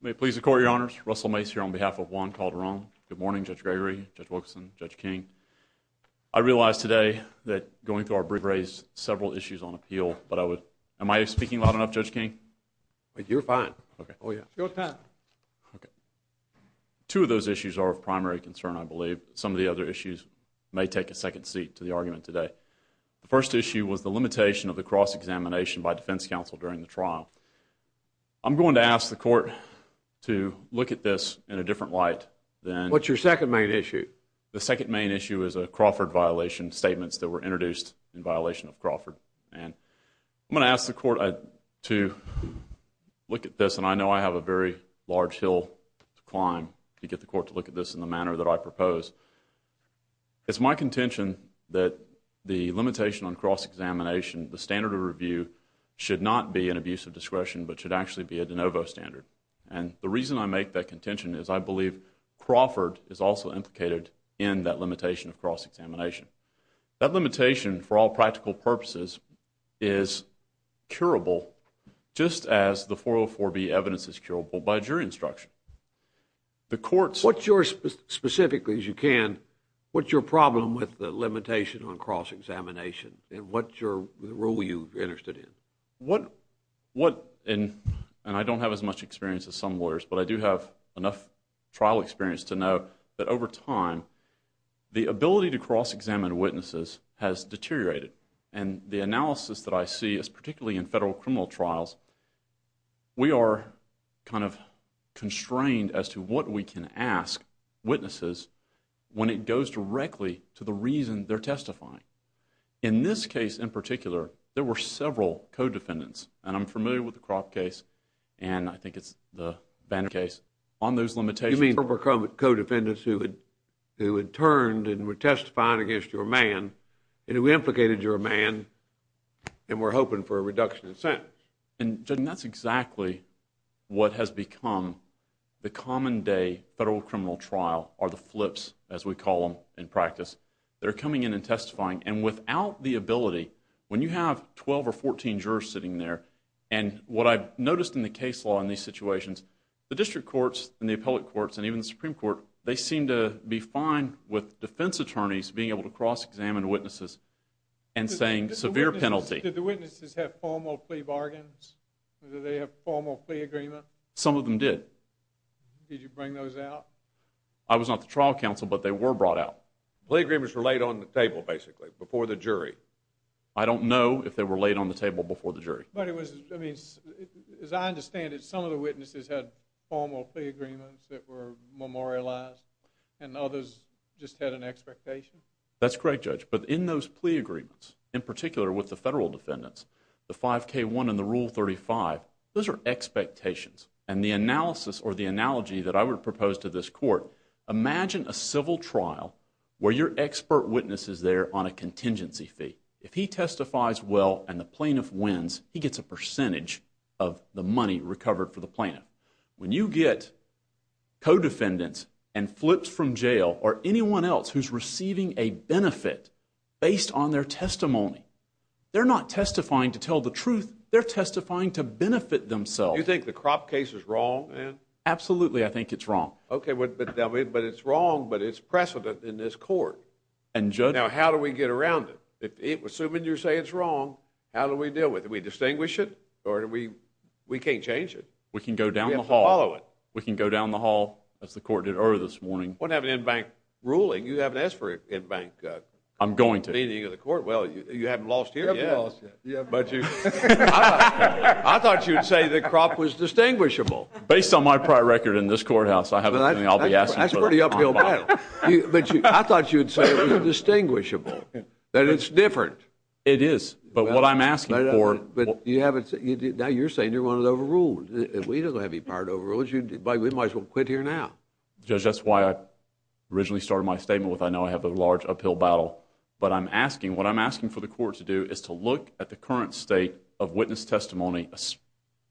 May it please the Court, Your Honors. Russell Mace here on behalf of Juan Calderon. Good morning, Judge Gregory, Judge Wilkinson, Judge King. I realize today that going through our brief raised several issues on appeal, but I would, am I speaking loud enough, Judge King? You're fine. Okay. Oh, yeah. Your turn. Okay. Two of those issues are of primary concern, I believe. Some of the other issues may take a second seat to the argument today. The first issue was the limitation of the cross-examination by defense counsel during the trial. I'm going to ask the Court to look at this in a different light than. What's your second main issue? The second main issue is a Crawford violation statements that were introduced in violation of Crawford, and I'm going to ask the Court to look at this, and I know I have a very large hill to climb to get the Court to look at this in the manner that I propose. It's my contention that the standard of review should not be an abuse of discretion, but should actually be a de novo standard, and the reason I make that contention is I believe Crawford is also implicated in that limitation of cross-examination. That limitation, for all practical purposes, is curable just as the 404B evidence is curable by jury instruction. The Court's... What's your, specifically, as you can, what's your problem with the limitation on cross-examination and what's your role you're interested in? What, and I don't have as much experience as some lawyers, but I do have enough trial experience to know that over time, the ability to cross-examine witnesses has deteriorated, and the analysis that I see is particularly in federal criminal trials, we are kind of constrained as to what we can ask witnesses when it goes directly to the reason they're testifying. In this case, in particular, there were several co-defendants, and I'm familiar with the Cropp case, and I think it's the Banner case. On those limitations... You mean there were co-defendants who had turned and were testifying against your man, and who implicated your man, and were hoping for a reduction in sentence? And, Judge, that's exactly what has become the common day federal criminal trial, or the flips, as we call them in practice. They're coming in and testifying, and without the ability, when you have 12 or 14 jurors sitting there, and what I've noticed in the case law in these situations, the district courts, and the appellate courts, and even the Supreme Court, they seem to be fine with defense attorneys being able to cross-examine witnesses and saying, severe penalty. Did the witnesses have formal plea bargains? Did they have formal plea agreement? Some of them did. Did you bring those out? I was not the trial counsel, but they were brought out. Plea agreements were laid on the table, basically, before the jury. I don't know if they were laid on the table before the jury. But it was, I mean, as I understand it, some of the witnesses had formal plea agreements that were memorialized, and others just had an expectation? That's correct, Judge, but in those plea agreements, in particular with the federal defendants, the 5K1 and the Rule 35, those are expectations, and the analysis or the analogy that I would propose to this court, imagine a civil trial where your expert witness is there on a contingency fee. If he testifies well and the plaintiff wins, he gets a percentage of the money recovered for the plaintiff. When you get co-defendants and flips from jail, or anyone else who's receiving a benefit based on their testimony, they're not testifying to tell the truth, they're testifying to benefit themselves. You think the Kropp case is wrong, then? Absolutely, I think it's wrong. Okay, but it's wrong, but it's precedent in this court. And Judge? Now, how do we get around it? Assuming you're saying it's wrong, how do we deal with it? Do we distinguish it, or do we, we can't change it? We can go down the hall. We have to follow it. We can go down the hall, as the court did earlier this morning. We don't have an en banc ruling, you haven't asked for an en banc ruling. I'm going to. Meaning of the court? Well, you haven't lost here yet. You haven't lost yet. But you, I thought you'd say the Kropp was distinguishable. Based on my prior record in this courthouse, I haven't, I'll be asking for an en banc. That's a pretty uphill battle. I thought you'd say it was distinguishable, that it's different. It is. But what I'm asking for. But you haven't, now you're saying you want it overruled. We don't have any power to overrule it, we might as well quit here now. Judge, that's why I originally started my statement with I know I have a large uphill battle. But I'm asking, what I'm asking for the court to do is to look at the current state of witness testimony,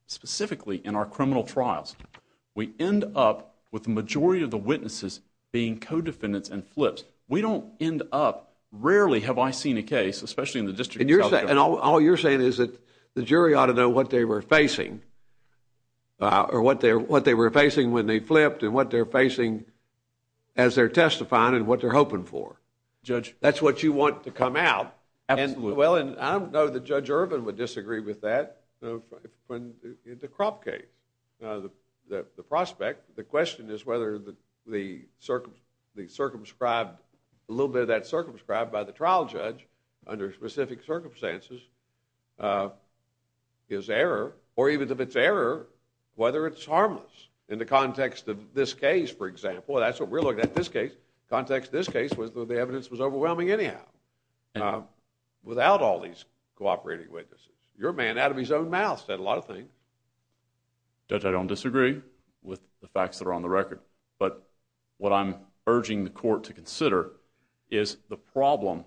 specifically in our criminal trials. We end up with the majority of the witnesses being co-defendants and flips. We don't end up, rarely have I seen a case, especially in the District of South Dakota. And all you're saying is that the jury ought to know what they were facing. Or what they were facing when they flipped and what they're facing as they're testifying and what they're hoping for. Judge, that's what you want to come out. Absolutely. Well, and I don't know that Judge Irvin would disagree with that. The Crop case, the prospect, the question is whether the circumscribed, a little bit of that circumscribed by the trial judge under specific circumstances is error. Or even if it's error, whether it's harmless. In the context of this case, for example, that's what we're looking at, this case. Context of this case was the evidence was overwhelming anyhow. Without all these cooperating witnesses. Your man, out of his own mouth, said a lot of things. Judge, I don't disagree with the facts that are on the record. But what I'm urging the court to consider is the problem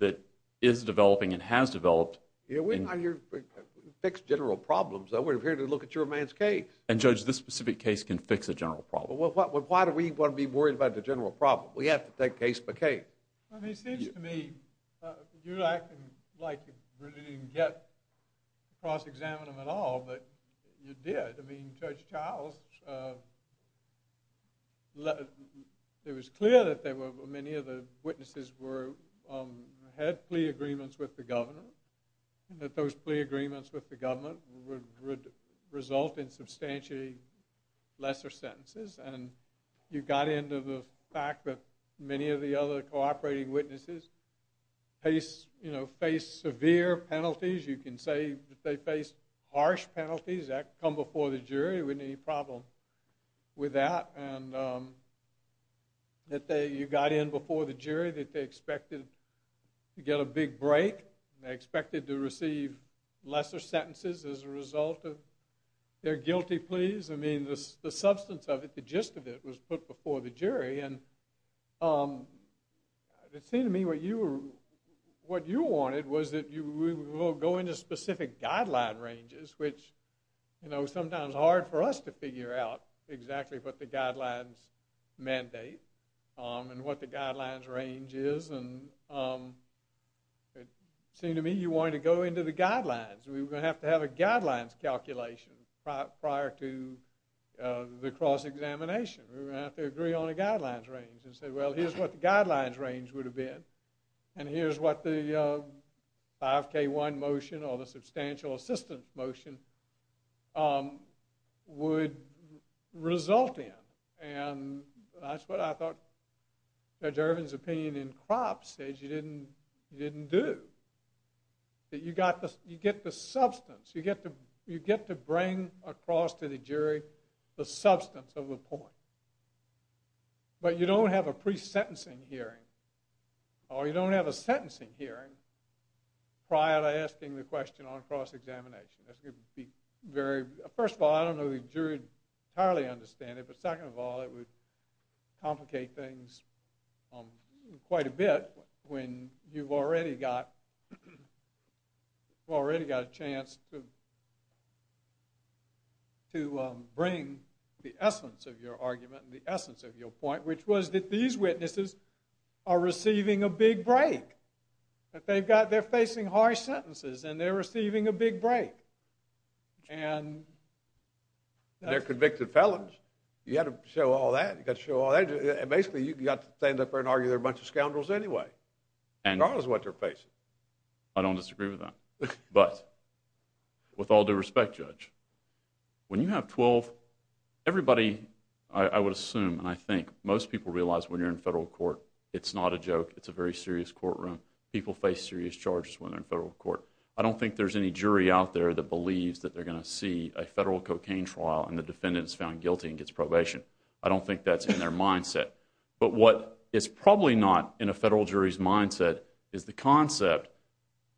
that is developing and has developed. We're not here to fix general problems. We're here to look at your man's case. And Judge, this specific case can fix a general problem. Well, why do we want to be worried about the general problem? We have to take case by case. I mean, it seems to me you're acting like you really didn't get cross-examining at all. But you did. I mean, Judge Childs, it was clear that many of the witnesses had plea agreements with the governor. And that those plea agreements with the government would result in substantially lesser sentences. And you got into the fact that many of the other cooperating witnesses face severe penalties. You can say that they face harsh penalties that come before the jury. There wasn't any problem with that. And that you got in before the jury, that they expected to get a big break. They expected to receive lesser sentences as a result of their guilty pleas. I mean, the substance of it, the gist of it, was put before the jury. And it seemed to me what you wanted was that we will go into specific guideline ranges, which, you know, is sometimes hard for us to figure out exactly what the guidelines mandate and what the guidelines range is. And it seemed to me you wanted to go into the guidelines. We were going to have to have a guidelines calculation prior to the cross-examination. We were going to have to agree on a guidelines range and say, well, here's what the guidelines range would have been. And here's what the 5K1 motion or the substantial assistance motion would result in. And that's what I thought Judge Irvin's opinion in Cropp said you didn't do, that you get the substance. You get to bring across to the jury the substance of the point. But you don't have a pre-sentencing hearing, or you don't have a sentencing hearing prior to asking the question on cross-examination. That's going to be very, first of all, I don't know the jury would entirely understand it, but second of all, it would complicate things quite a bit when you've already got a chance to bring the essence of your argument and the essence of your point, which was that these witnesses are receiving a big break. They're facing harsh sentences, and they're receiving a big break. And they're convicted felons. You got to show all that. You got to show all that. And basically, you've got to stand up there and argue they're a bunch of scoundrels anyway. And that's what they're facing. I don't disagree with that. But with all due respect, Judge, when you have 12, everybody, I would assume, and I think most people realize when you're in federal court, it's not a joke. It's a very serious courtroom. People face serious charges when they're in federal court. I don't think there's any jury out there that believes that they're going to see a federal cocaine trial and the defendant is found guilty and gets probation. I don't think that's in their mindset. But what is probably not in a federal jury's mindset is the concept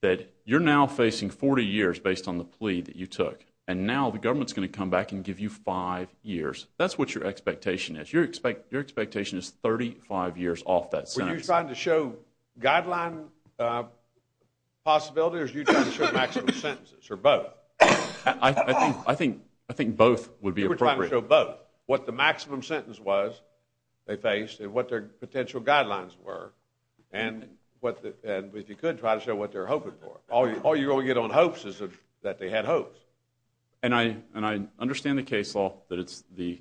that you're now facing 40 years based on the plea that you took. And now the government's going to come back and give you five years. That's what your expectation is. Your expectation is 35 years off that sentence. Were you trying to show guideline possibility, or were you trying to show maximum sentences, or both? I think both would be appropriate. You were trying to show both. What the maximum sentence was they faced, and what their potential guidelines were. And if you could, try to show what they're hoping for. All you're going to get on hopes is that they had hopes. And I understand the case law, that it's the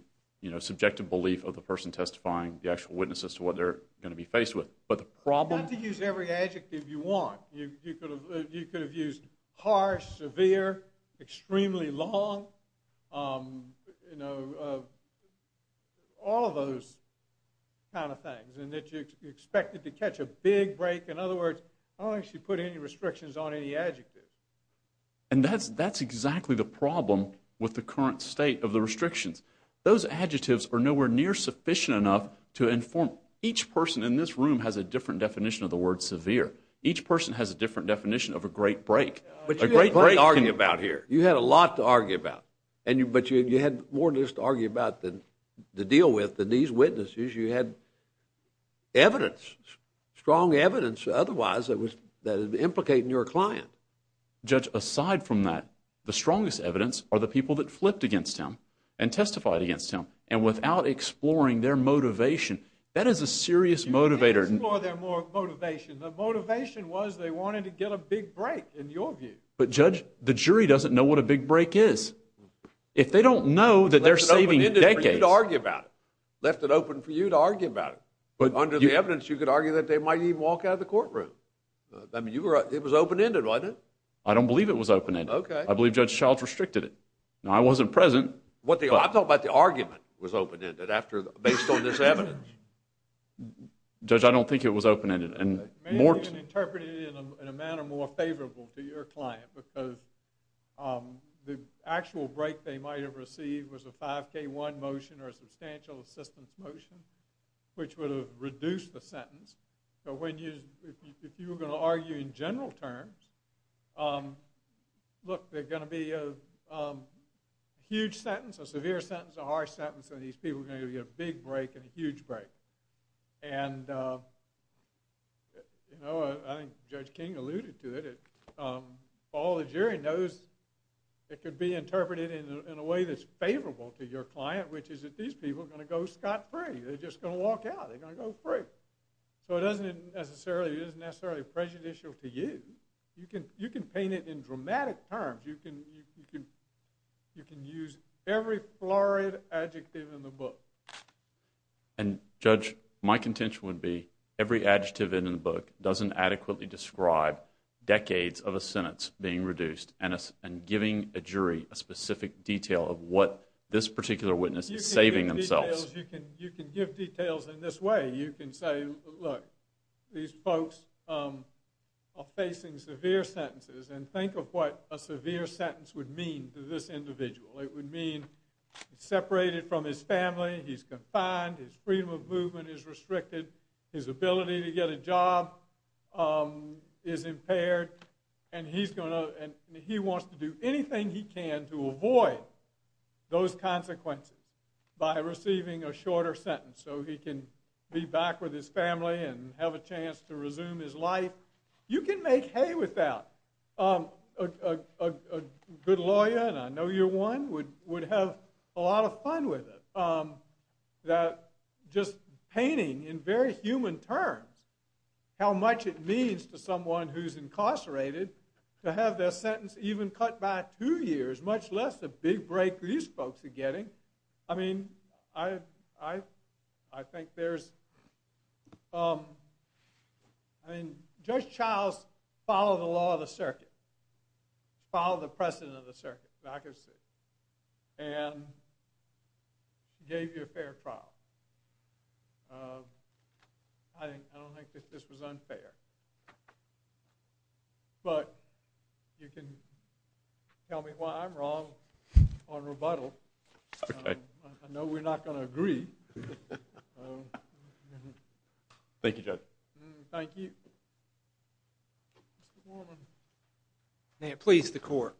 subjective belief of the person testifying, the actual witness as to what they're going to be faced with. But the problem- You don't have to use every adjective you want. You could have used harsh, severe, extremely long, you know, all of those kind of things. And that you're expected to catch a big break. In other words, I don't actually put any restrictions on any adjectives. And that's exactly the problem with the current state of the restrictions. Those adjectives are nowhere near sufficient enough to inform- Each person in this room has a different definition of the word severe. Each person has a different definition of a great break. A great break can- But you had plenty to argue about here. You had a lot to argue about. But you had more to just argue about than to deal with than these witnesses. You had evidence, strong evidence, otherwise, that was implicating your client. Judge, aside from that, the strongest evidence are the people that flipped against him and testified against him. And without exploring their motivation, that is a serious motivator- Explore their motivation. The motivation was they wanted to get a big break, in your view. But Judge, the jury doesn't know what a big break is. If they don't know that they're saving decades- Left it open for you to argue about it. Left it open for you to argue about it. But under the evidence, you could argue that they might even walk out of the courtroom. I mean, it was open-ended, wasn't it? I don't believe it was open-ended. Okay. I believe Judge Childs restricted it. Now, I wasn't present. I'm talking about the argument was open-ended, based on this evidence. Judge, I don't think it was open-ended. Maybe you can interpret it in a manner more favorable to your client, because the actual break they might have received was a 5K1 motion or a substantial assistance motion, which would have reduced the sentence. So, if you were going to argue in general terms, look, there's going to be a huge sentence, a severe sentence, a harsh sentence, and these people are going to get a big break and a you know, I think Judge King alluded to it, all the jury knows it could be interpreted in a way that's favorable to your client, which is that these people are going to go scot-free. They're just going to walk out. They're going to go free. So, it doesn't necessarily, it isn't necessarily prejudicial to you. You can paint it in dramatic terms. You can use every florid adjective in the book. And Judge, my contention would be every adjective in the book doesn't adequately describe decades of a sentence being reduced and giving a jury a specific detail of what this particular witness is saving themselves. You can give details in this way. You can say, look, these folks are facing severe sentences, and think of what a severe sentence would mean to this individual. It would mean he's separated from his family, he's confined, his freedom of movement is restricted, his ability to get a job is impaired, and he wants to do anything he can to avoid those consequences by receiving a shorter sentence so he can be back with his family and have a chance to resume his life. You can make hay with that. A good lawyer, and I know you're one, would have a lot of fun with it. Just painting, in very human terms, how much it means to someone who's incarcerated to have their sentence even cut by two years, much less the big break these folks are getting. I mean, I think there's, I mean, Judge Childs followed the law of the circuit, followed the precedent of the circuit, as I can see, and gave you a fair trial. I don't think that this was unfair, but you can tell me why I'm wrong on rebuttal. I know we're not going to agree. Thank you, Judge. Thank you. May it please the Court.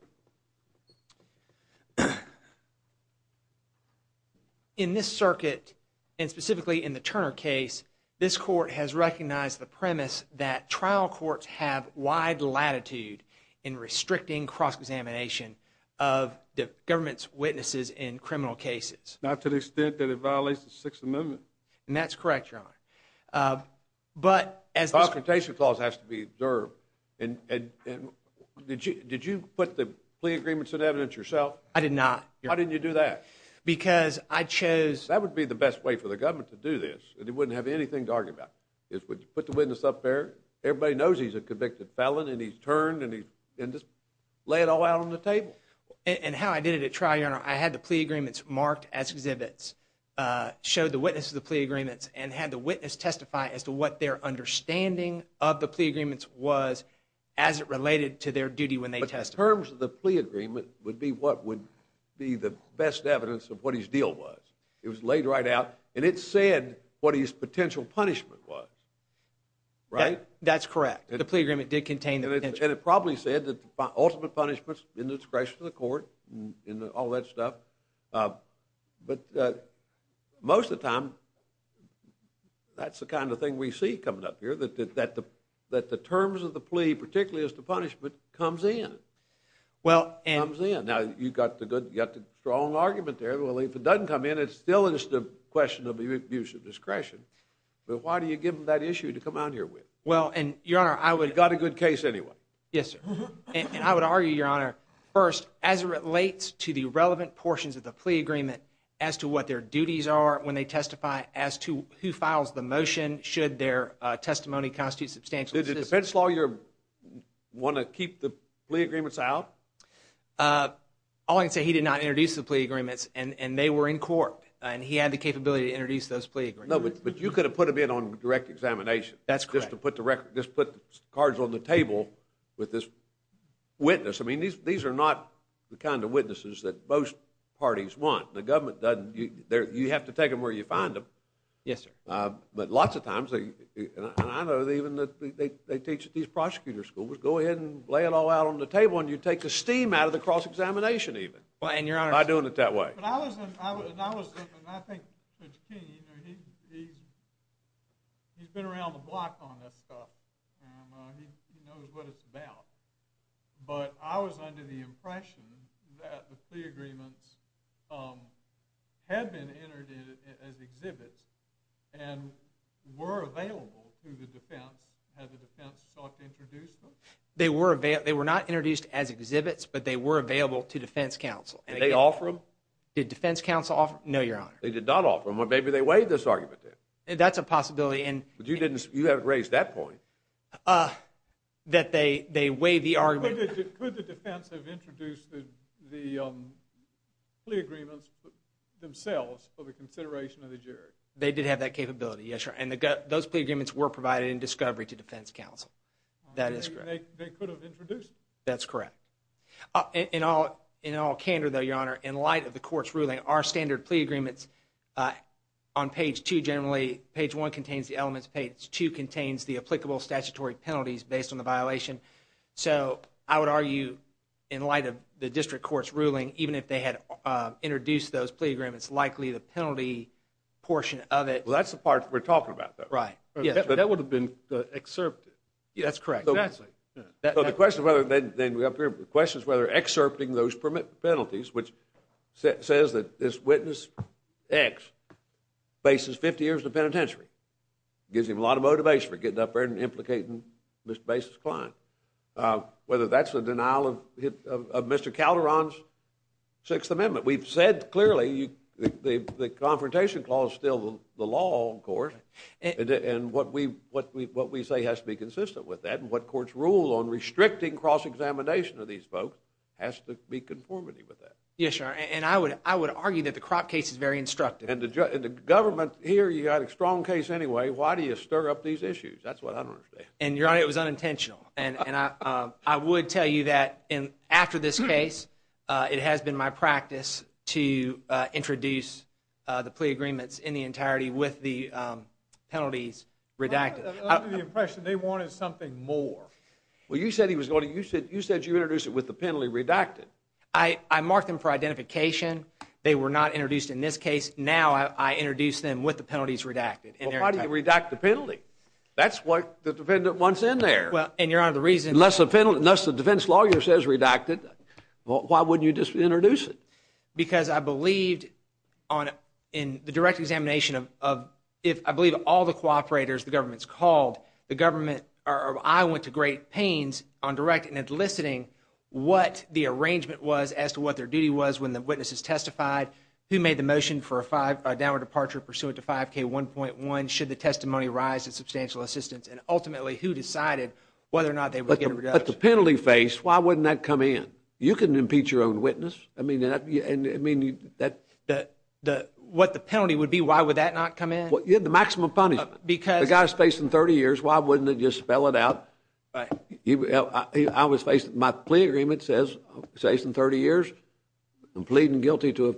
In this circuit, and specifically in the Turner case, this Court has recognized the premise that trial courts have wide latitude in restricting cross-examination of the government's witnesses in criminal cases. Not to the extent that it violates the Sixth Amendment. And that's correct, Your Honor. But, as the... The Confrontation Clause has to be observed. And did you put the plea agreements in evidence yourself? I did not, Your Honor. Why didn't you do that? Because I chose... That would be the best way for the government to do this. It wouldn't have anything to argue about. Put the witness up there. Everybody knows he's a convicted felon, and he's turned, and he's... Lay it all out on the table. And how I did it at trial, Your Honor, I had the plea agreements marked as exhibits, showed the witness to the plea agreements, and had the witness testify as to what their understanding of the plea agreements was as it related to their duty when they testified. But the terms of the plea agreement would be what would be the best evidence of what his deal was. It was laid right out, and it said what his potential punishment was. That's correct. The plea agreement did contain the potential... And it probably said that the ultimate punishment's in the discretion of the court, and all that stuff. But most of the time, that's the kind of thing we see coming up here, that the terms of the plea, particularly as to punishment, comes in. Well, and... Comes in. Now, you've got the strong argument there. Well, if it doesn't come in, it's still just a question of abuse of discretion. But why do you give them that issue to come out here with? Well, and, Your Honor, I would... They got a good case anyway. Yes, sir. And I would argue, Your Honor, first, as it relates to the relevant portions of the plea agreement as to what their duties are when they testify, as to who files the motion, should their testimony constitute substantial... Did the defense lawyer want to keep the plea agreements out? All I can say, he did not introduce the plea agreements, and they were in court. And he had the capability to introduce those plea agreements. No, but you could have put them in on direct examination. That's correct. You don't have to just put the cards on the table with this witness. I mean, these are not the kind of witnesses that most parties want. The government doesn't. You have to take them where you find them. Yes, sir. But lots of times, and I know even that they teach at these prosecutor schools, go ahead and lay it all out on the table, and you take the steam out of the cross-examination even. And, Your Honor... By doing it that way. But I was, and I think Mr. King, he's been around the block on this stuff, and he knows what it's about. But I was under the impression that the plea agreements had been entered in as exhibits, and were available to the defense, had the defense sought to introduce them? They were not introduced as exhibits, but they were available to defense counsel. Did they offer them? Did defense counsel offer them? No, Your Honor. They did not offer them. Well, maybe they waived this argument then. That's a possibility. But you didn't, you haven't raised that point. That they waived the argument. Could the defense have introduced the plea agreements themselves for the consideration of the jury? They did have that capability, yes, sir. And those plea agreements were provided in discovery to defense counsel. That is correct. They could have introduced them. That's correct. In all candor, though, Your Honor, in light of the court's ruling, our standard plea agreements on page two generally, page one contains the elements, page two contains the applicable statutory penalties based on the violation. So, I would argue, in light of the district court's ruling, even if they had introduced those plea agreements, likely the penalty portion of it... Well, that's the part we're talking about, though. Right. That would have been excerpted. That's correct. Exactly. So, the question, then, up here, the question is whether excerpting those penalties, which says that this witness, X, faces 50 years in the penitentiary, gives him a lot of motivation for getting up there and implicating Mr. Bases' client, whether that's a denial of Mr. Calderon's Sixth Amendment. We've said clearly the confrontation clause is still the law, of course, and what we say has to be consistent with that and what courts rule on restricting cross-examination of these folks has to be conformity with that. Yes, Your Honor, and I would argue that the Kropp case is very instructive. And the government, here, you've got a strong case anyway, why do you stir up these issues? That's what I don't understand. And, Your Honor, it was unintentional. And I would tell you that, after this case, it has been my practice to introduce the plea agreements in the entirety with the penalties redacted. Under the impression they wanted something more. Well, you said you introduced it with the penalty redacted. I marked them for identification. They were not introduced in this case. Now I introduce them with the penalties redacted. Well, why do you redact the penalty? That's what the defendant wants in there. And, Your Honor, the reason... Unless the defense lawyer says redacted, why wouldn't you just introduce it? Because I believed in the direct examination of... I went to great pains on direct and enlisting what the arrangement was as to what their duty was when the witnesses testified, who made the motion for a downward departure pursuant to 5K1.1, should the testimony rise in substantial assistance, and, ultimately, who decided whether or not they would get a reduction. But the penalty faced, why wouldn't that come in? You can impeach your own witness. What the penalty would be, why would that not come in? The maximum punishment. Because... If that guy's facing 30 years, why wouldn't it just spell it out? Right. I was facing... My plea agreement says I'm facing 30 years. I'm pleading guilty to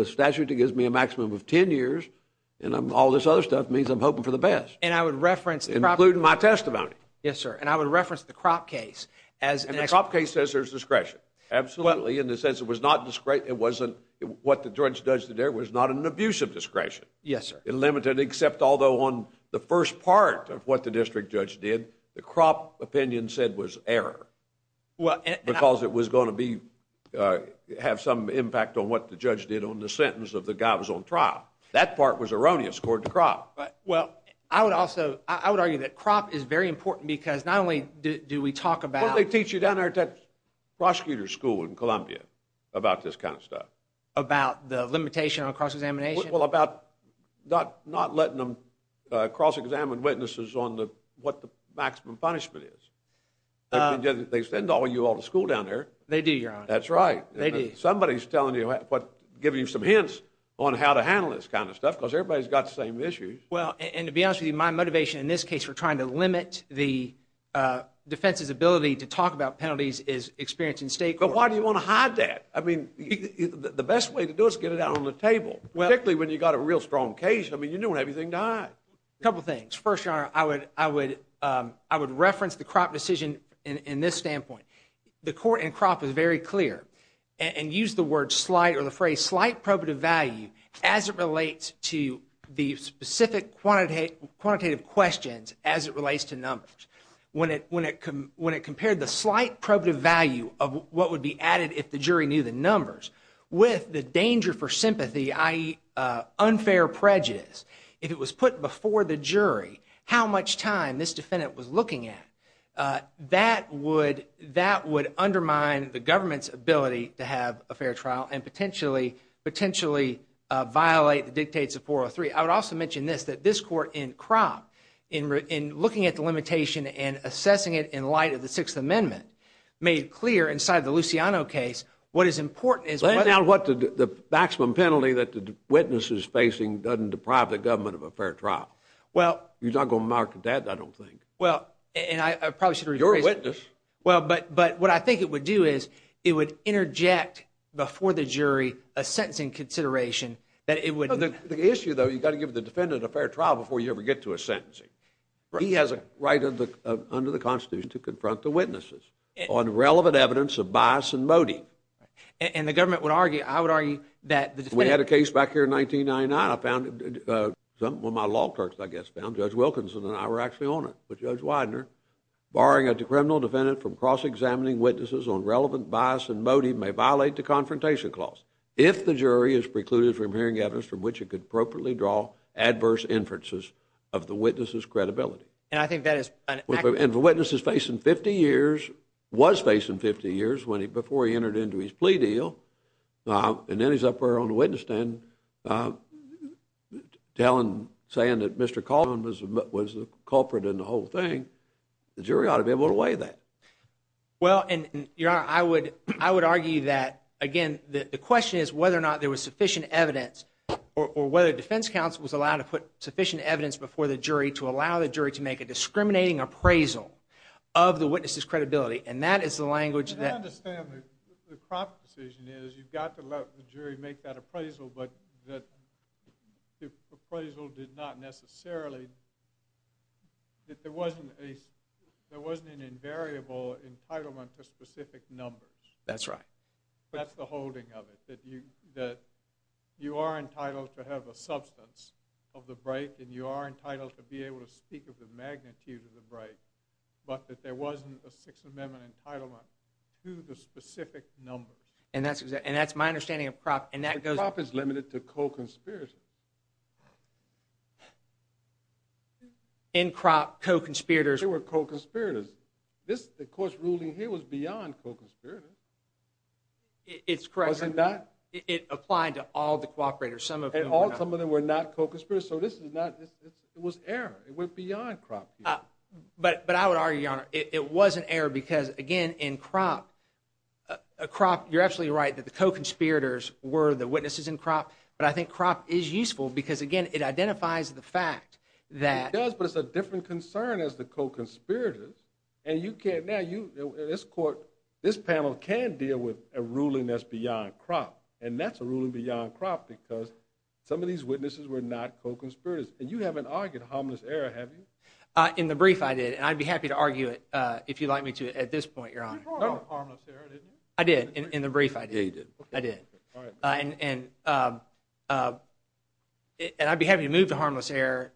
a statute that gives me a maximum of 10 years. And all this other stuff means I'm hoping for the best. And I would reference... Including my testimony. Yes, sir. And I would reference the Kropp case as... And the Kropp case says there's discretion. Absolutely, in the sense it was not discretion... It wasn't... What the judge did there was not an abuse of discretion. Yes, sir. It limited, except although on the first part of what the district judge did, the Kropp opinion said was error. Well... Because it was going to be... Have some impact on what the judge did on the sentence of the guy who was on trial. That part was erroneous according to Kropp. Well, I would also... I would argue that Kropp is very important because not only do we talk about... Well, they teach you down there at that prosecutor's school in Columbia about this kind of stuff. About the limitation on cross-examination? Well, about not letting them cross-examine witnesses on what the maximum punishment is. They send you all to school down there. They do, Your Honor. That's right. They do. Somebody's telling you, giving you some hints on how to handle this kind of stuff because everybody's got the same issues. Well, and to be honest with you, my motivation in this case for trying to limit the defense's ability to talk about penalties is experiencing state court... But why do you want to hide that? I mean, the best way to do it is get it out on the table. Particularly when you've got a real strong case. I mean, you don't want everything to hide. Couple things. First, Your Honor, I would reference the Kropp decision in this standpoint. The court in Kropp is very clear and used the word slight or the phrase slight probative value as it relates to the specific quantitative questions as it relates to numbers. When it compared the slight probative value of what would be added if the jury knew the numbers with the danger for sympathy i.e. unfair prejudice, if it was put before the jury, how much time this defendant was looking at, that would undermine the government's ability to have a fair trial and potentially violate the dictates of 403. I would also mention this, that this court in Kropp, in looking at the limitation and assessing it in light of the Sixth Amendment, made clear inside the Luciano case what is important is... Lay down what the maximum penalty that the witness is facing doesn't deprive the government of a fair trial. You're not going to market that, I don't think. Well, and I probably should... You're a witness. But what I think it would do is it would interject before the jury a sentencing consideration that it would... The issue, though, you've got to give the defendant a fair trial before you ever get to a sentencing. He has a right under the Constitution to confront the witnesses on relevant evidence of bias and motive. And the government would argue, I would argue that the defendant... We had a case back here in 1999, one of my law clerks, I guess, found, Judge Wilkinson and I were actually on it, but Judge Widener, barring a criminal defendant from cross-examining witnesses on relevant bias and motive may violate the confrontation clause if the jury is precluded from hearing evidence from which it could appropriately draw adverse inferences of the witness's credibility. And I think that is... And if a witness is facing 50 years, was facing 50 years before he entered into his plea deal, and then he's up there on the witness stand telling... saying that Mr. Colvin was the culprit in the whole thing, the jury ought to be able to weigh that. Well, and, Your Honor, I would argue that, again, the question is whether or not there was sufficient evidence or whether defense counsel was allowed to put sufficient evidence before the jury to allow the jury to make a discriminating appraisal of the witness's credibility, and that is the language that... But I understand that the crop decision is you've got to let the jury make that appraisal, but that the appraisal did not necessarily... that there wasn't a... there wasn't an invariable entitlement to specific numbers. That's right. That's the holding of it, that you are entitled to have a substance of the break, and you are entitled to be able to speak of the magnitude of the break, but that there wasn't a Sixth Amendment entitlement to the specific numbers. And that's my understanding of crop, and that goes... The crop is limited to co-conspirators. In crop, co-conspirators... They were co-conspirators. The court's ruling here was beyond co-conspirators. It's correct. Wasn't that... It applied to all the co-operators. And all of them were not co-conspirators, so this was error. It went beyond crop. But I would argue, Your Honor, it was an error because, again, in crop, you're absolutely right that the co-conspirators were the witnesses in crop, but I think crop is useful because, again, it identifies the fact that... It does, but it's a different concern as the co-conspirators, and you can't... This panel can't deal with and that's a ruling beyond crop because some of these witnesses were not co-conspirators, and you haven't argued harmless error, have you? In the brief, I did, and I'd be happy to argue it if you'd like me to at this point, Your Honor. You brought up harmless error, didn't you? I did. In the brief, I did. And I'd be happy to move to harmless error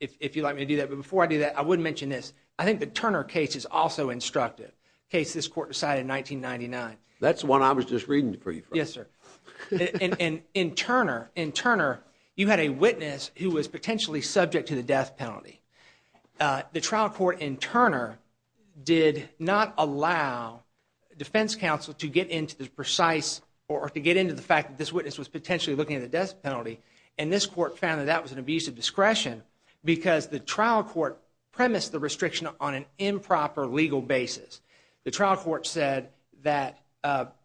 if you'd like me to do that, but before I do that, I would mention this. I think the Turner case is also instructive, a case this court decided in 1999. That's the one I was just reading for you from. Yes, sir. In Turner, you had a witness who was potentially subject to the death penalty. The trial court in Turner did not allow defense counsel to get into the precise... or to get into the fact that this witness was potentially looking at the death penalty, and this court found that that was an abuse of discretion because the trial court premised the restriction on an improper legal basis. The trial court said that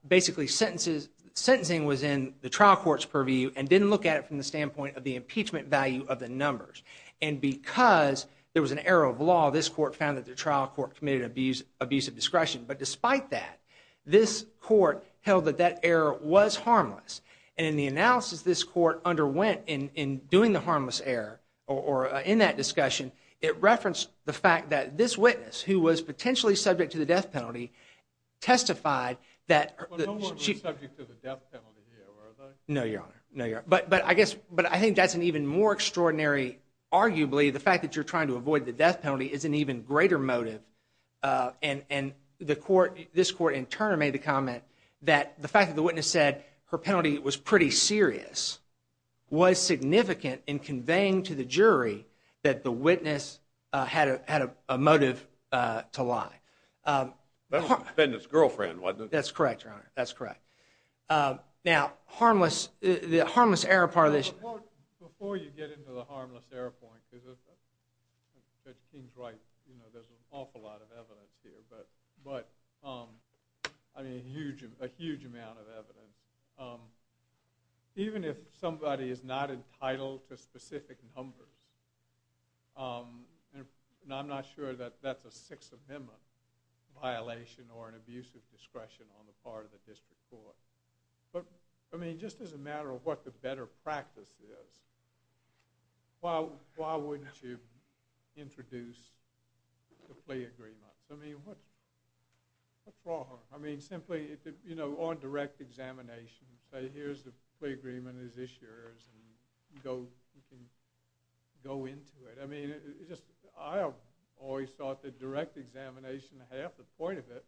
basically sentencing was in the trial court's purview and didn't look at it from the standpoint of the impeachment value of the numbers. And because there was an error of law, this court found that the trial court committed an abuse of discretion. But despite that, this court held that that error was harmless. And in the analysis this court underwent in doing the harmless error or in that discussion, it referenced the fact that this witness, who was potentially subject to the death penalty, testified that... No one was subject to the death penalty here, were they? No, Your Honor. But I think that's an even more extraordinary... Arguably, the fact that you're trying to avoid the death penalty is an even greater motive. And this court in Turner made the comment that the fact that the witness said her penalty was pretty serious was significant in conveying to the jury that the witness had a motive to lie. That was the defendant's girlfriend, wasn't it? That's correct, Your Honor. Now, the harmless error part of this... Before you get into the harmless error point, Judge King's right. There's an awful lot of evidence here, but a huge amount of evidence. Even if somebody is not entitled to specific numbers, and I'm not sure that that's a Sixth Amendment violation or an abuse of discretion on the part of the district court. Just as a matter of what the better practice is, why wouldn't you introduce the plea agreement? What's wrong? Simply, on direct examination, say, here's the plea agreement as issuers, and you can go into it. I always thought that direct examination, half the point of it,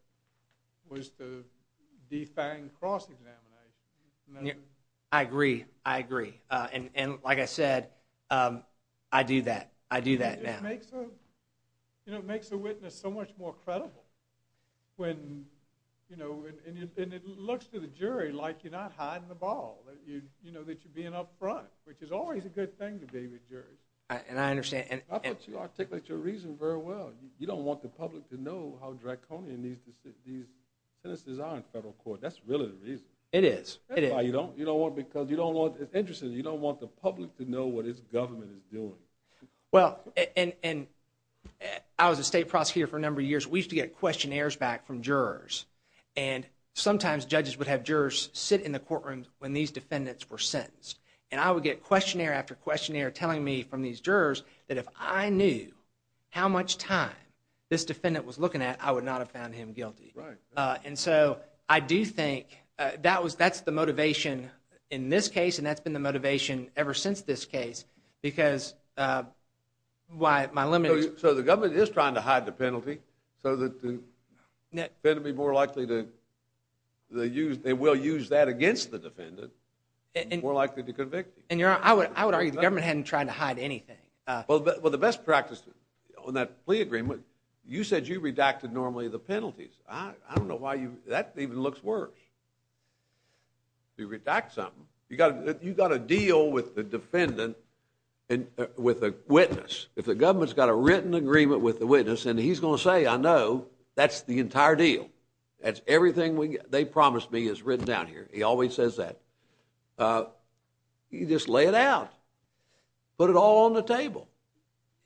was to define cross-examination. I agree. I agree. Like I said, I do that. I do that now. It makes the witness so much more credible. It looks to the jury like you're not hiding the ball. You know that you're being up front, which is always a good thing to be with juries. I understand. You articulate your reason very well. You don't want the public to know how draconian these sentences are in federal court. That's really the reason. It is. It's interesting. You don't want the public to know what its government is doing. Well, I was a state prosecutor for a number of years. We used to get questionnaires back from jurors, and sometimes judges would have jurors sit in the courtroom when these defendants were sentenced. I would get questionnaire after questionnaire telling me from these jurors that if I knew how much time this defendant was looking at, I would not have found him guilty. I do think that's the motivation in this case, and that's been the motivation ever since this case because my limit is... The government is trying to hide the penalty so that the defendant would be more they will use that against the defendant more likely to convict you. I would argue the government hadn't tried to hide anything. Well, the best practice on that plea agreement, you said you redacted normally the penalties. I don't know why that even looks worse. You redact something. You've got to deal with the defendant with a witness. If the government's got a written agreement with the witness and he's going to say, I know, that's the entire deal. Everything they promised me is written down here. He always says that. You just lay it out. Put it all on the table.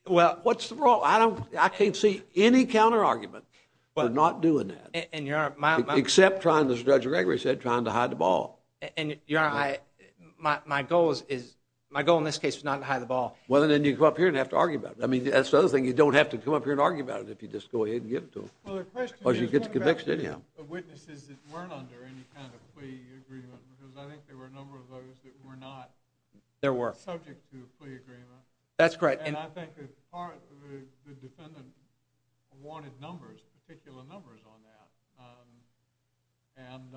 What's the problem? I can't see any counter-argument for not doing that, except trying to, as Judge Gregory said, trying to hide the ball. Your Honor, my goal in this case is not to hide the ball. Well, then you come up here and have to argue about it. That's the other thing. You don't have to come up here and argue about it if you just go ahead and get it to him. Well, the question is, what about the witnesses that weren't under any kind of plea agreement? Because I think there were a number of those that were not subject to a plea agreement. That's correct. And I think that part of the defendant wanted numbers, particular numbers, on that. And,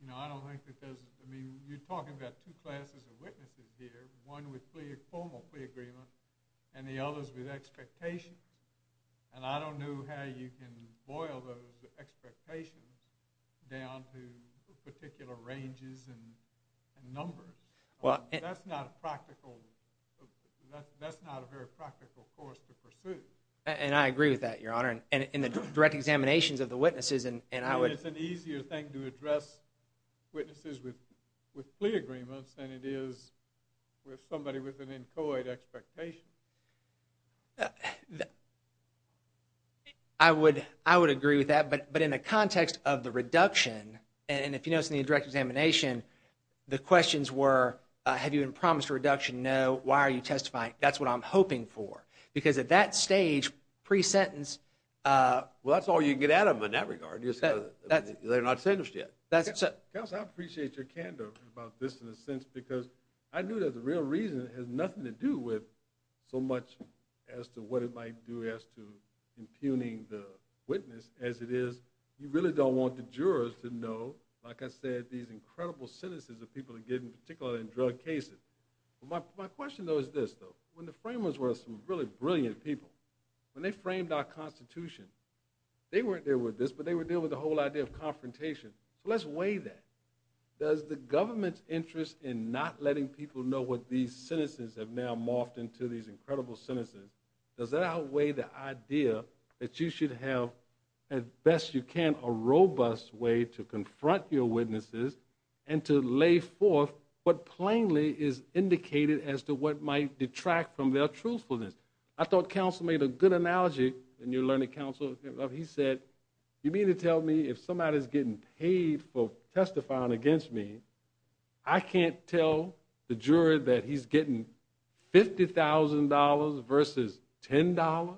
you know, I don't think because, I mean, you're talking about two classes of witnesses here, one with formal plea agreement and the others with expectation. And I don't know how you can boil those expectations down to particular ranges and numbers. That's not a practical, that's not a very practical course to pursue. And I agree with that, Your Honor. And in the direct examinations of the witnesses, and I would... It's an easier thing to address witnesses with plea agreements than it is with somebody with an inchoate expectation. I would agree with that, but in the context of the reduction, and if you notice in the direct examination, the questions were, have you been promised a reduction? No. Why are you testifying? That's what I'm hoping for. Because at that stage, pre-sentence... Well, that's all you can get out of them in that regard. They're not sentenced yet. Counsel, I appreciate your candor about this in a sense, because I knew that the real reason had nothing to do with so much as to what it might do as to impugning the witness as it is, you really don't want the jurors to know, like I said, these incredible sentences that people are getting, particularly in drug cases. My question, though, is this, though. When the framers were some really brilliant people, when they framed our Constitution, they weren't there with this, but they were there with the whole idea of confrontation. So let's weigh that. Does the government's interest in not letting people know what these sentences have now morphed into, these incredible sentences, does that outweigh the idea that you should have as best you can a robust way to confront your witnesses and to lay forth what plainly is indicated as to what might detract from their truthfulness? I thought counsel made a good analogy, and you're learning counsel, he said, you mean to tell me if somebody's getting paid for testifying against me, I can't tell the juror that he's getting $50,000 versus $10?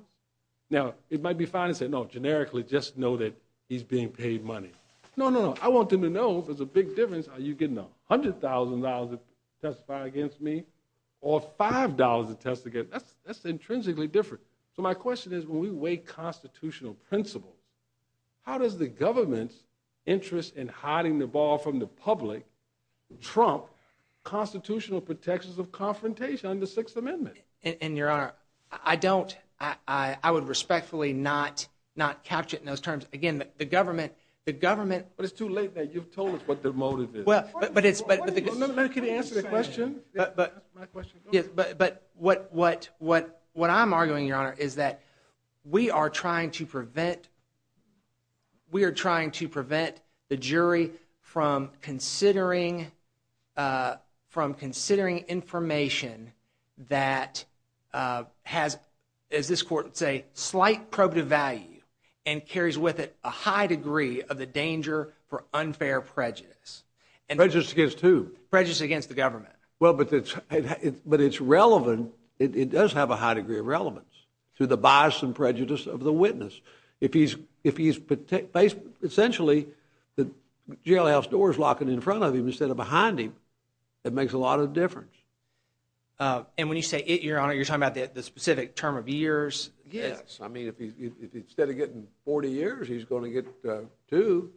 Now, it might be fine to say, no, generically, just know that he's being paid money. No, no, no, I want them to know if there's a big difference, are you getting $100,000 to testify against me, or $5 to testify against me? That's intrinsically different. So my question is, when we weigh constitutional principles, how does the government's interest in hiding the ball from the public trump constitutional protections of confrontation under the Sixth Amendment? And, Your Honor, I don't, I would respectfully not capture it in those terms. Again, the government, the government... But it's too late now, you've told us what the motive is. No, no, no, can you answer the question? But, what I'm arguing, Your Honor, is that we are trying to prevent, we are trying to prevent the jury from considering, from considering information that has, as this court would say, slight probative value and carries with it a high degree of the danger for unfair prejudice. Prejudice against who? Prejudice against the government. Well, but it's relevant, it does have a high degree of relevance to the bias and prejudice of the witness. If he's, if he's essentially the jailhouse doors locking in front of him instead of behind him, it makes a lot of difference. And when you say it, Your Honor, you're talking about the specific term of years? Yes, I mean, if instead of getting 40 years, he's going to get two.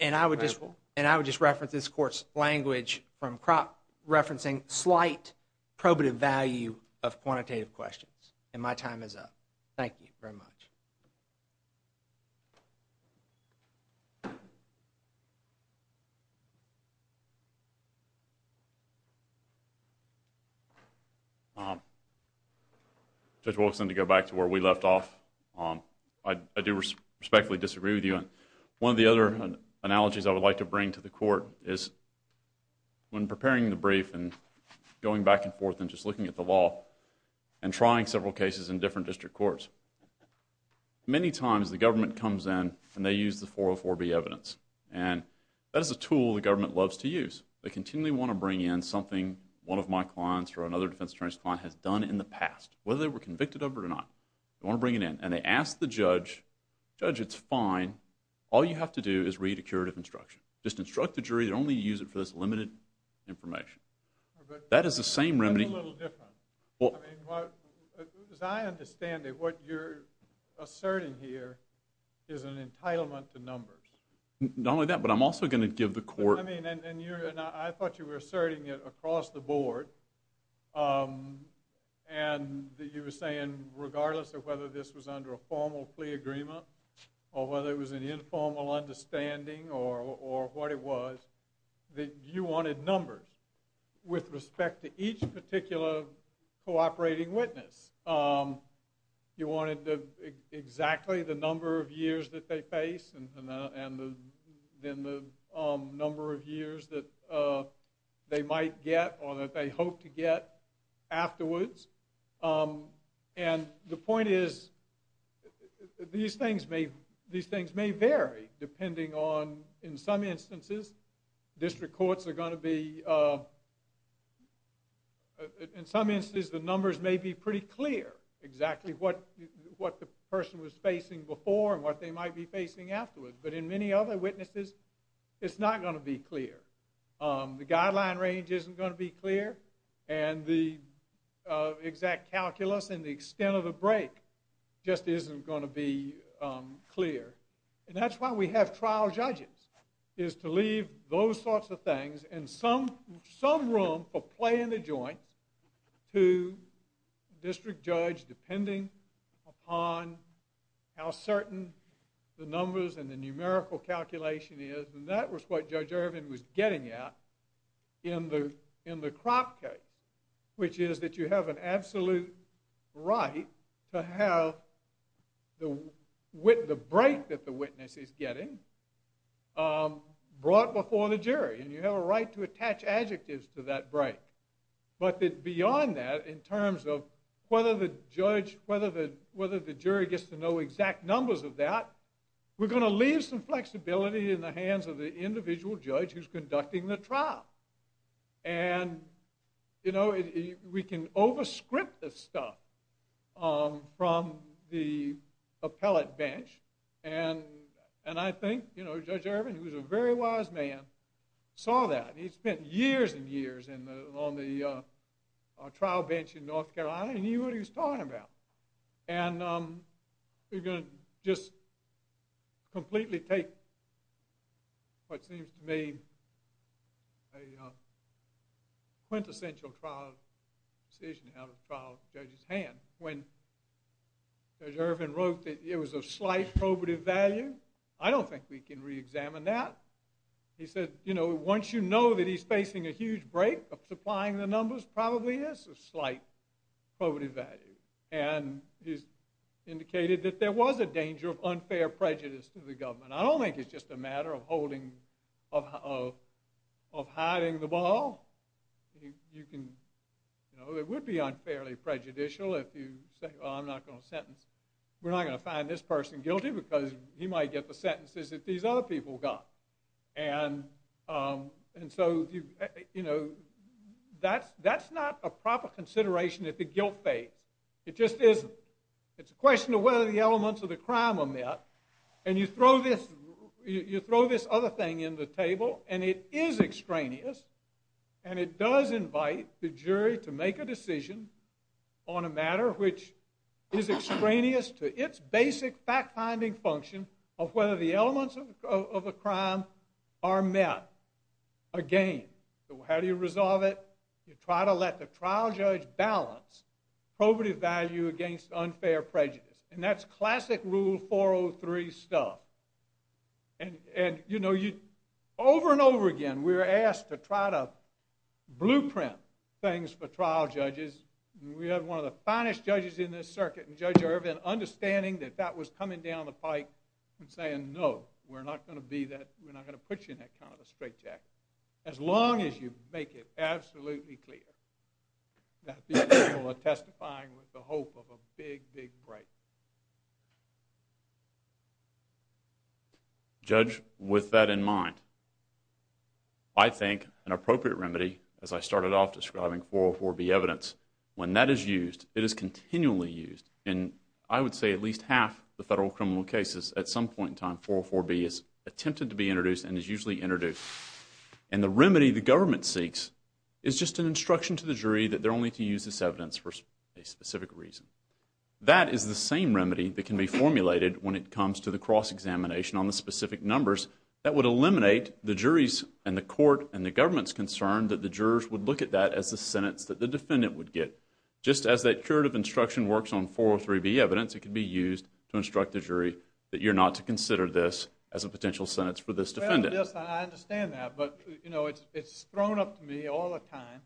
And I would just, and I would just reference this court's language from crop referencing slight probative value of quantitative questions. And my time is up. Thank you very much. Judge Wilson, to go back to where we left off, I do respectfully disagree with you. One of the other analogies I would like to bring to the court is when preparing the brief and going back and forth and just looking at the law and trying several cases in different district courts, many times the government comes in and they use the 404B evidence. And that is a tool the government loves to use. They continually want to bring in something one of my clients or another defense attorney's client has done in the past, whether they were convicted of it or not. They want to bring it in. And they ask the judge, judge, it's fine, all you have to do is read a curative instruction. Just instruct the jury. They don't need to use it for this limited information. That is the same remedy. That's a little different. As I understand it, what you're asserting here is an entitlement to numbers. Not only that, but I'm also going to give the court I mean, and I thought you were asserting it across the board and that you were saying, regardless of whether this was under a formal plea agreement or whether it was an informal understanding or what it was, that you wanted numbers with respect to each particular cooperating witness. You wanted exactly the number of years that they face and then the number of years that they might get or that they hope to get afterwards. And the point is these things may vary depending on in some instances district courts are going to be in some instances the numbers may be pretty clear exactly what the person was facing before and what they might be facing afterwards. But in many other witnesses, it's not going to be clear. The guideline range isn't going to be clear and the exact calculus and the extent of the break just isn't going to be clear. And that's why we have trial judges is to leave those sorts of things and some room for play in the joints to district judge depending upon how certain the numbers and the numerical calculation is and that was what Judge Irvin was getting at in the crop case which is that you have an absolute right to have the break that the witness is getting brought before the jury and you have a right to attach adjectives to that break. But that beyond that in terms of whether the judge, whether the jury gets to know exact numbers of that, we're going to leave some flexibility in the hands of the individual judge who's conducting the trial. And you know we can over script this stuff from the appellate bench and I think Judge Irvin who's a very wise man saw that. He spent years and years on the trial bench in North Carolina and he knew what he was talking about. And we're going to just completely take what seems to me a quintessential trial decision out of the trial judge's hand. When Judge Irvin wrote that it was of slight probative value, I don't think we can re-examine that. He said you know once you know that he's facing a huge break of supplying the numbers probably is of slight probative value. And he's indicated that there was a danger of unfair prejudice to the government. I don't think it's just a matter of holding of hiding the ball. It would be unfairly prejudicial if you say well I'm not going to sentence we're not going to find this person guilty because he might get the sentences that these other people got. And so you know that's not a proper consideration if the guilt fades. It just isn't. It's a question of whether the elements of the crime are met. And you throw this other thing in the table and it is extraneous and it does invite the jury to make a decision on a matter which is extraneous to its basic fact finding function of whether the elements of the crime are met. Again, how do you resolve it? You try to let the trial judge balance probative value against unfair prejudice. And that's classic rule 403 stuff. And you know over and over again we were asked to try to blueprint things for trial judges. We had one of the finest judges in this circuit, Judge Irvin, understanding that that was coming down the pike and saying no, we're not going to put you in that kind of straitjacket. As long as you make it absolutely clear that these people are testifying with the hope of a big big break. Judge, with that in mind, I think an appropriate remedy, as I started off describing 404B evidence, when that is used, it is continually used. And I would say at least half the federal criminal cases, at some point in time, 404B is attempted to be introduced and is usually introduced. And the remedy the government seeks is just an instruction to the jury that they're only to use this evidence for a specific reason. That is the same remedy that can be used for examination on the specific numbers that would eliminate the jury's and the court's and the government's concern that the jurors would look at that as the sentence that the defendant would get. Just as that curative instruction works on 403B evidence, it can be used to instruct the jury that you're not to consider this as a potential sentence for this defendant. I understand that, but it's thrown up to me all the time.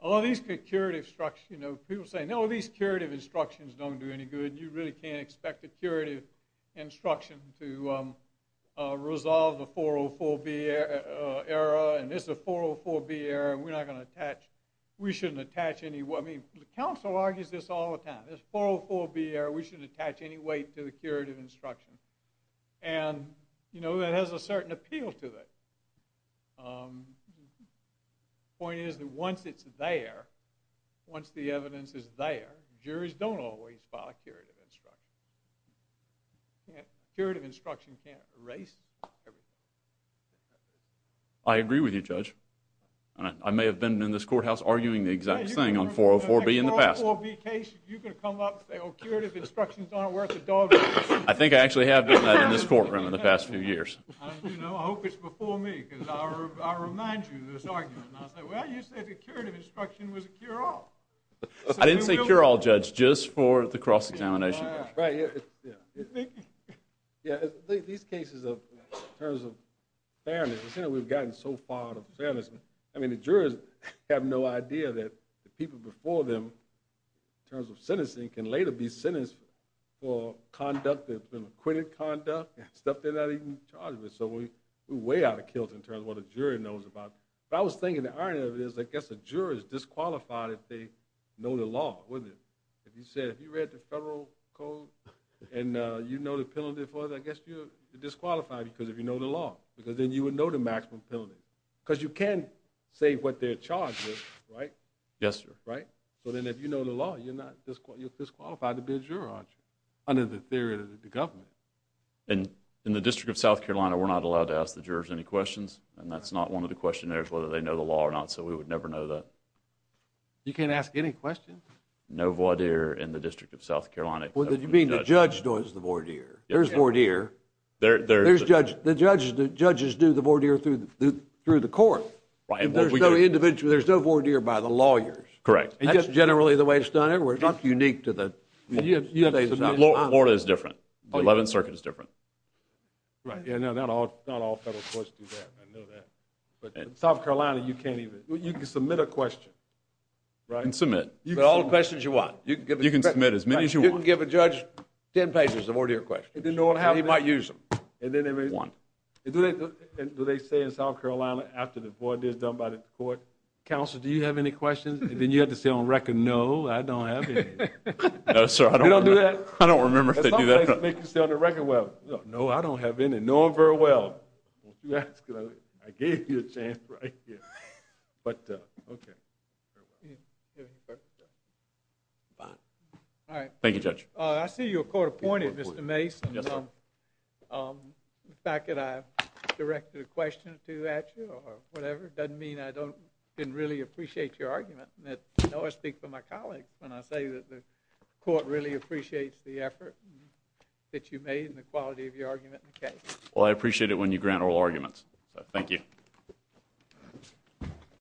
All these curative instructions, people say, no, these curative instructions don't do any good. You really can't expect a curative instruction to resolve the 404B error and this is a 404B error and we're not going to attach, we shouldn't attach any weight. I mean, the council argues this all the time. This 404B error, we shouldn't attach any weight to the curative instruction. And that has a certain appeal to it. The point is that once it's there, once the evidence is there, juries don't always file a curative instruction. Curative instruction can't erase everything. I agree with you, Judge. I may have been in this courthouse arguing the exact same thing on 404B in the past. If you could come up and say, oh, curative instructions aren't worth a dog's ass. I think I actually have done that in this courtroom in the past few years. I hope it's before me because I remind you of this argument. I say, well, you said the curative instruction was a cure-all. I didn't say cure-all, Judge, just for the cross-examination. These cases of fairness, we've gotten so far out of fairness. I mean, the jurors have no idea that the people before them in terms of sentencing can later be sentenced for conduct that's been acquitted conduct and stuff they're not even charged with. So we're way out of kilter in terms of what a jury knows about. But I was thinking the irony of it is, I guess the jurors disqualified if they know the law, wouldn't they? If you read the federal code and you know the penalty for it, I guess you're disqualified because if you know the law. Because then you would know the maximum penalty. Because you can't say what they're charged with, right? Yes, sir. Right? So then if you know the law, you're disqualified to be a juror, aren't you? Under the theory of the government. And in the District of South Carolina, we're not allowed to ask the jurors any questions, and that's not one of the questionnaires whether they know the law or not, so we would never know that. You can't ask any questions? No voir dire in the District of South Carolina. You mean the judge knows the voir dire? There's voir dire. There's judges do the voir dire through the court. There's no voir dire by the lawyers. Correct. That's generally the way it's done everywhere. It's not unique to the state of South Carolina. Florida is different. The 11th Circuit is different. Right. Not all federal courts do that. I know that. But in South Carolina, you can't even. You can submit a question, right? You can submit all the questions you want. You can submit as many as you want. You can give a judge 10 pages of voir dire questions. He might use them. Do they say in South Carolina after the voir dire is done by the court, Counsel, do you have any questions? And then you have to say on record, no, I don't have any. You don't do that? I don't remember if they do that. They can say on the record, well, no, I don't have any. No, I'm very well. Don't you ask. I gave you a chance right here. Okay. Fine. Thank you, Judge. I see you're court appointed, Mr. Mason. Yes, sir. The fact that I directed a question or two at you or whatever doesn't mean I didn't really appreciate your argument. I know I speak for my colleagues when I say that the court really appreciates the effort that you made and the quality of your argument in the case. Well, I appreciate it when you grant oral arguments. Thank you.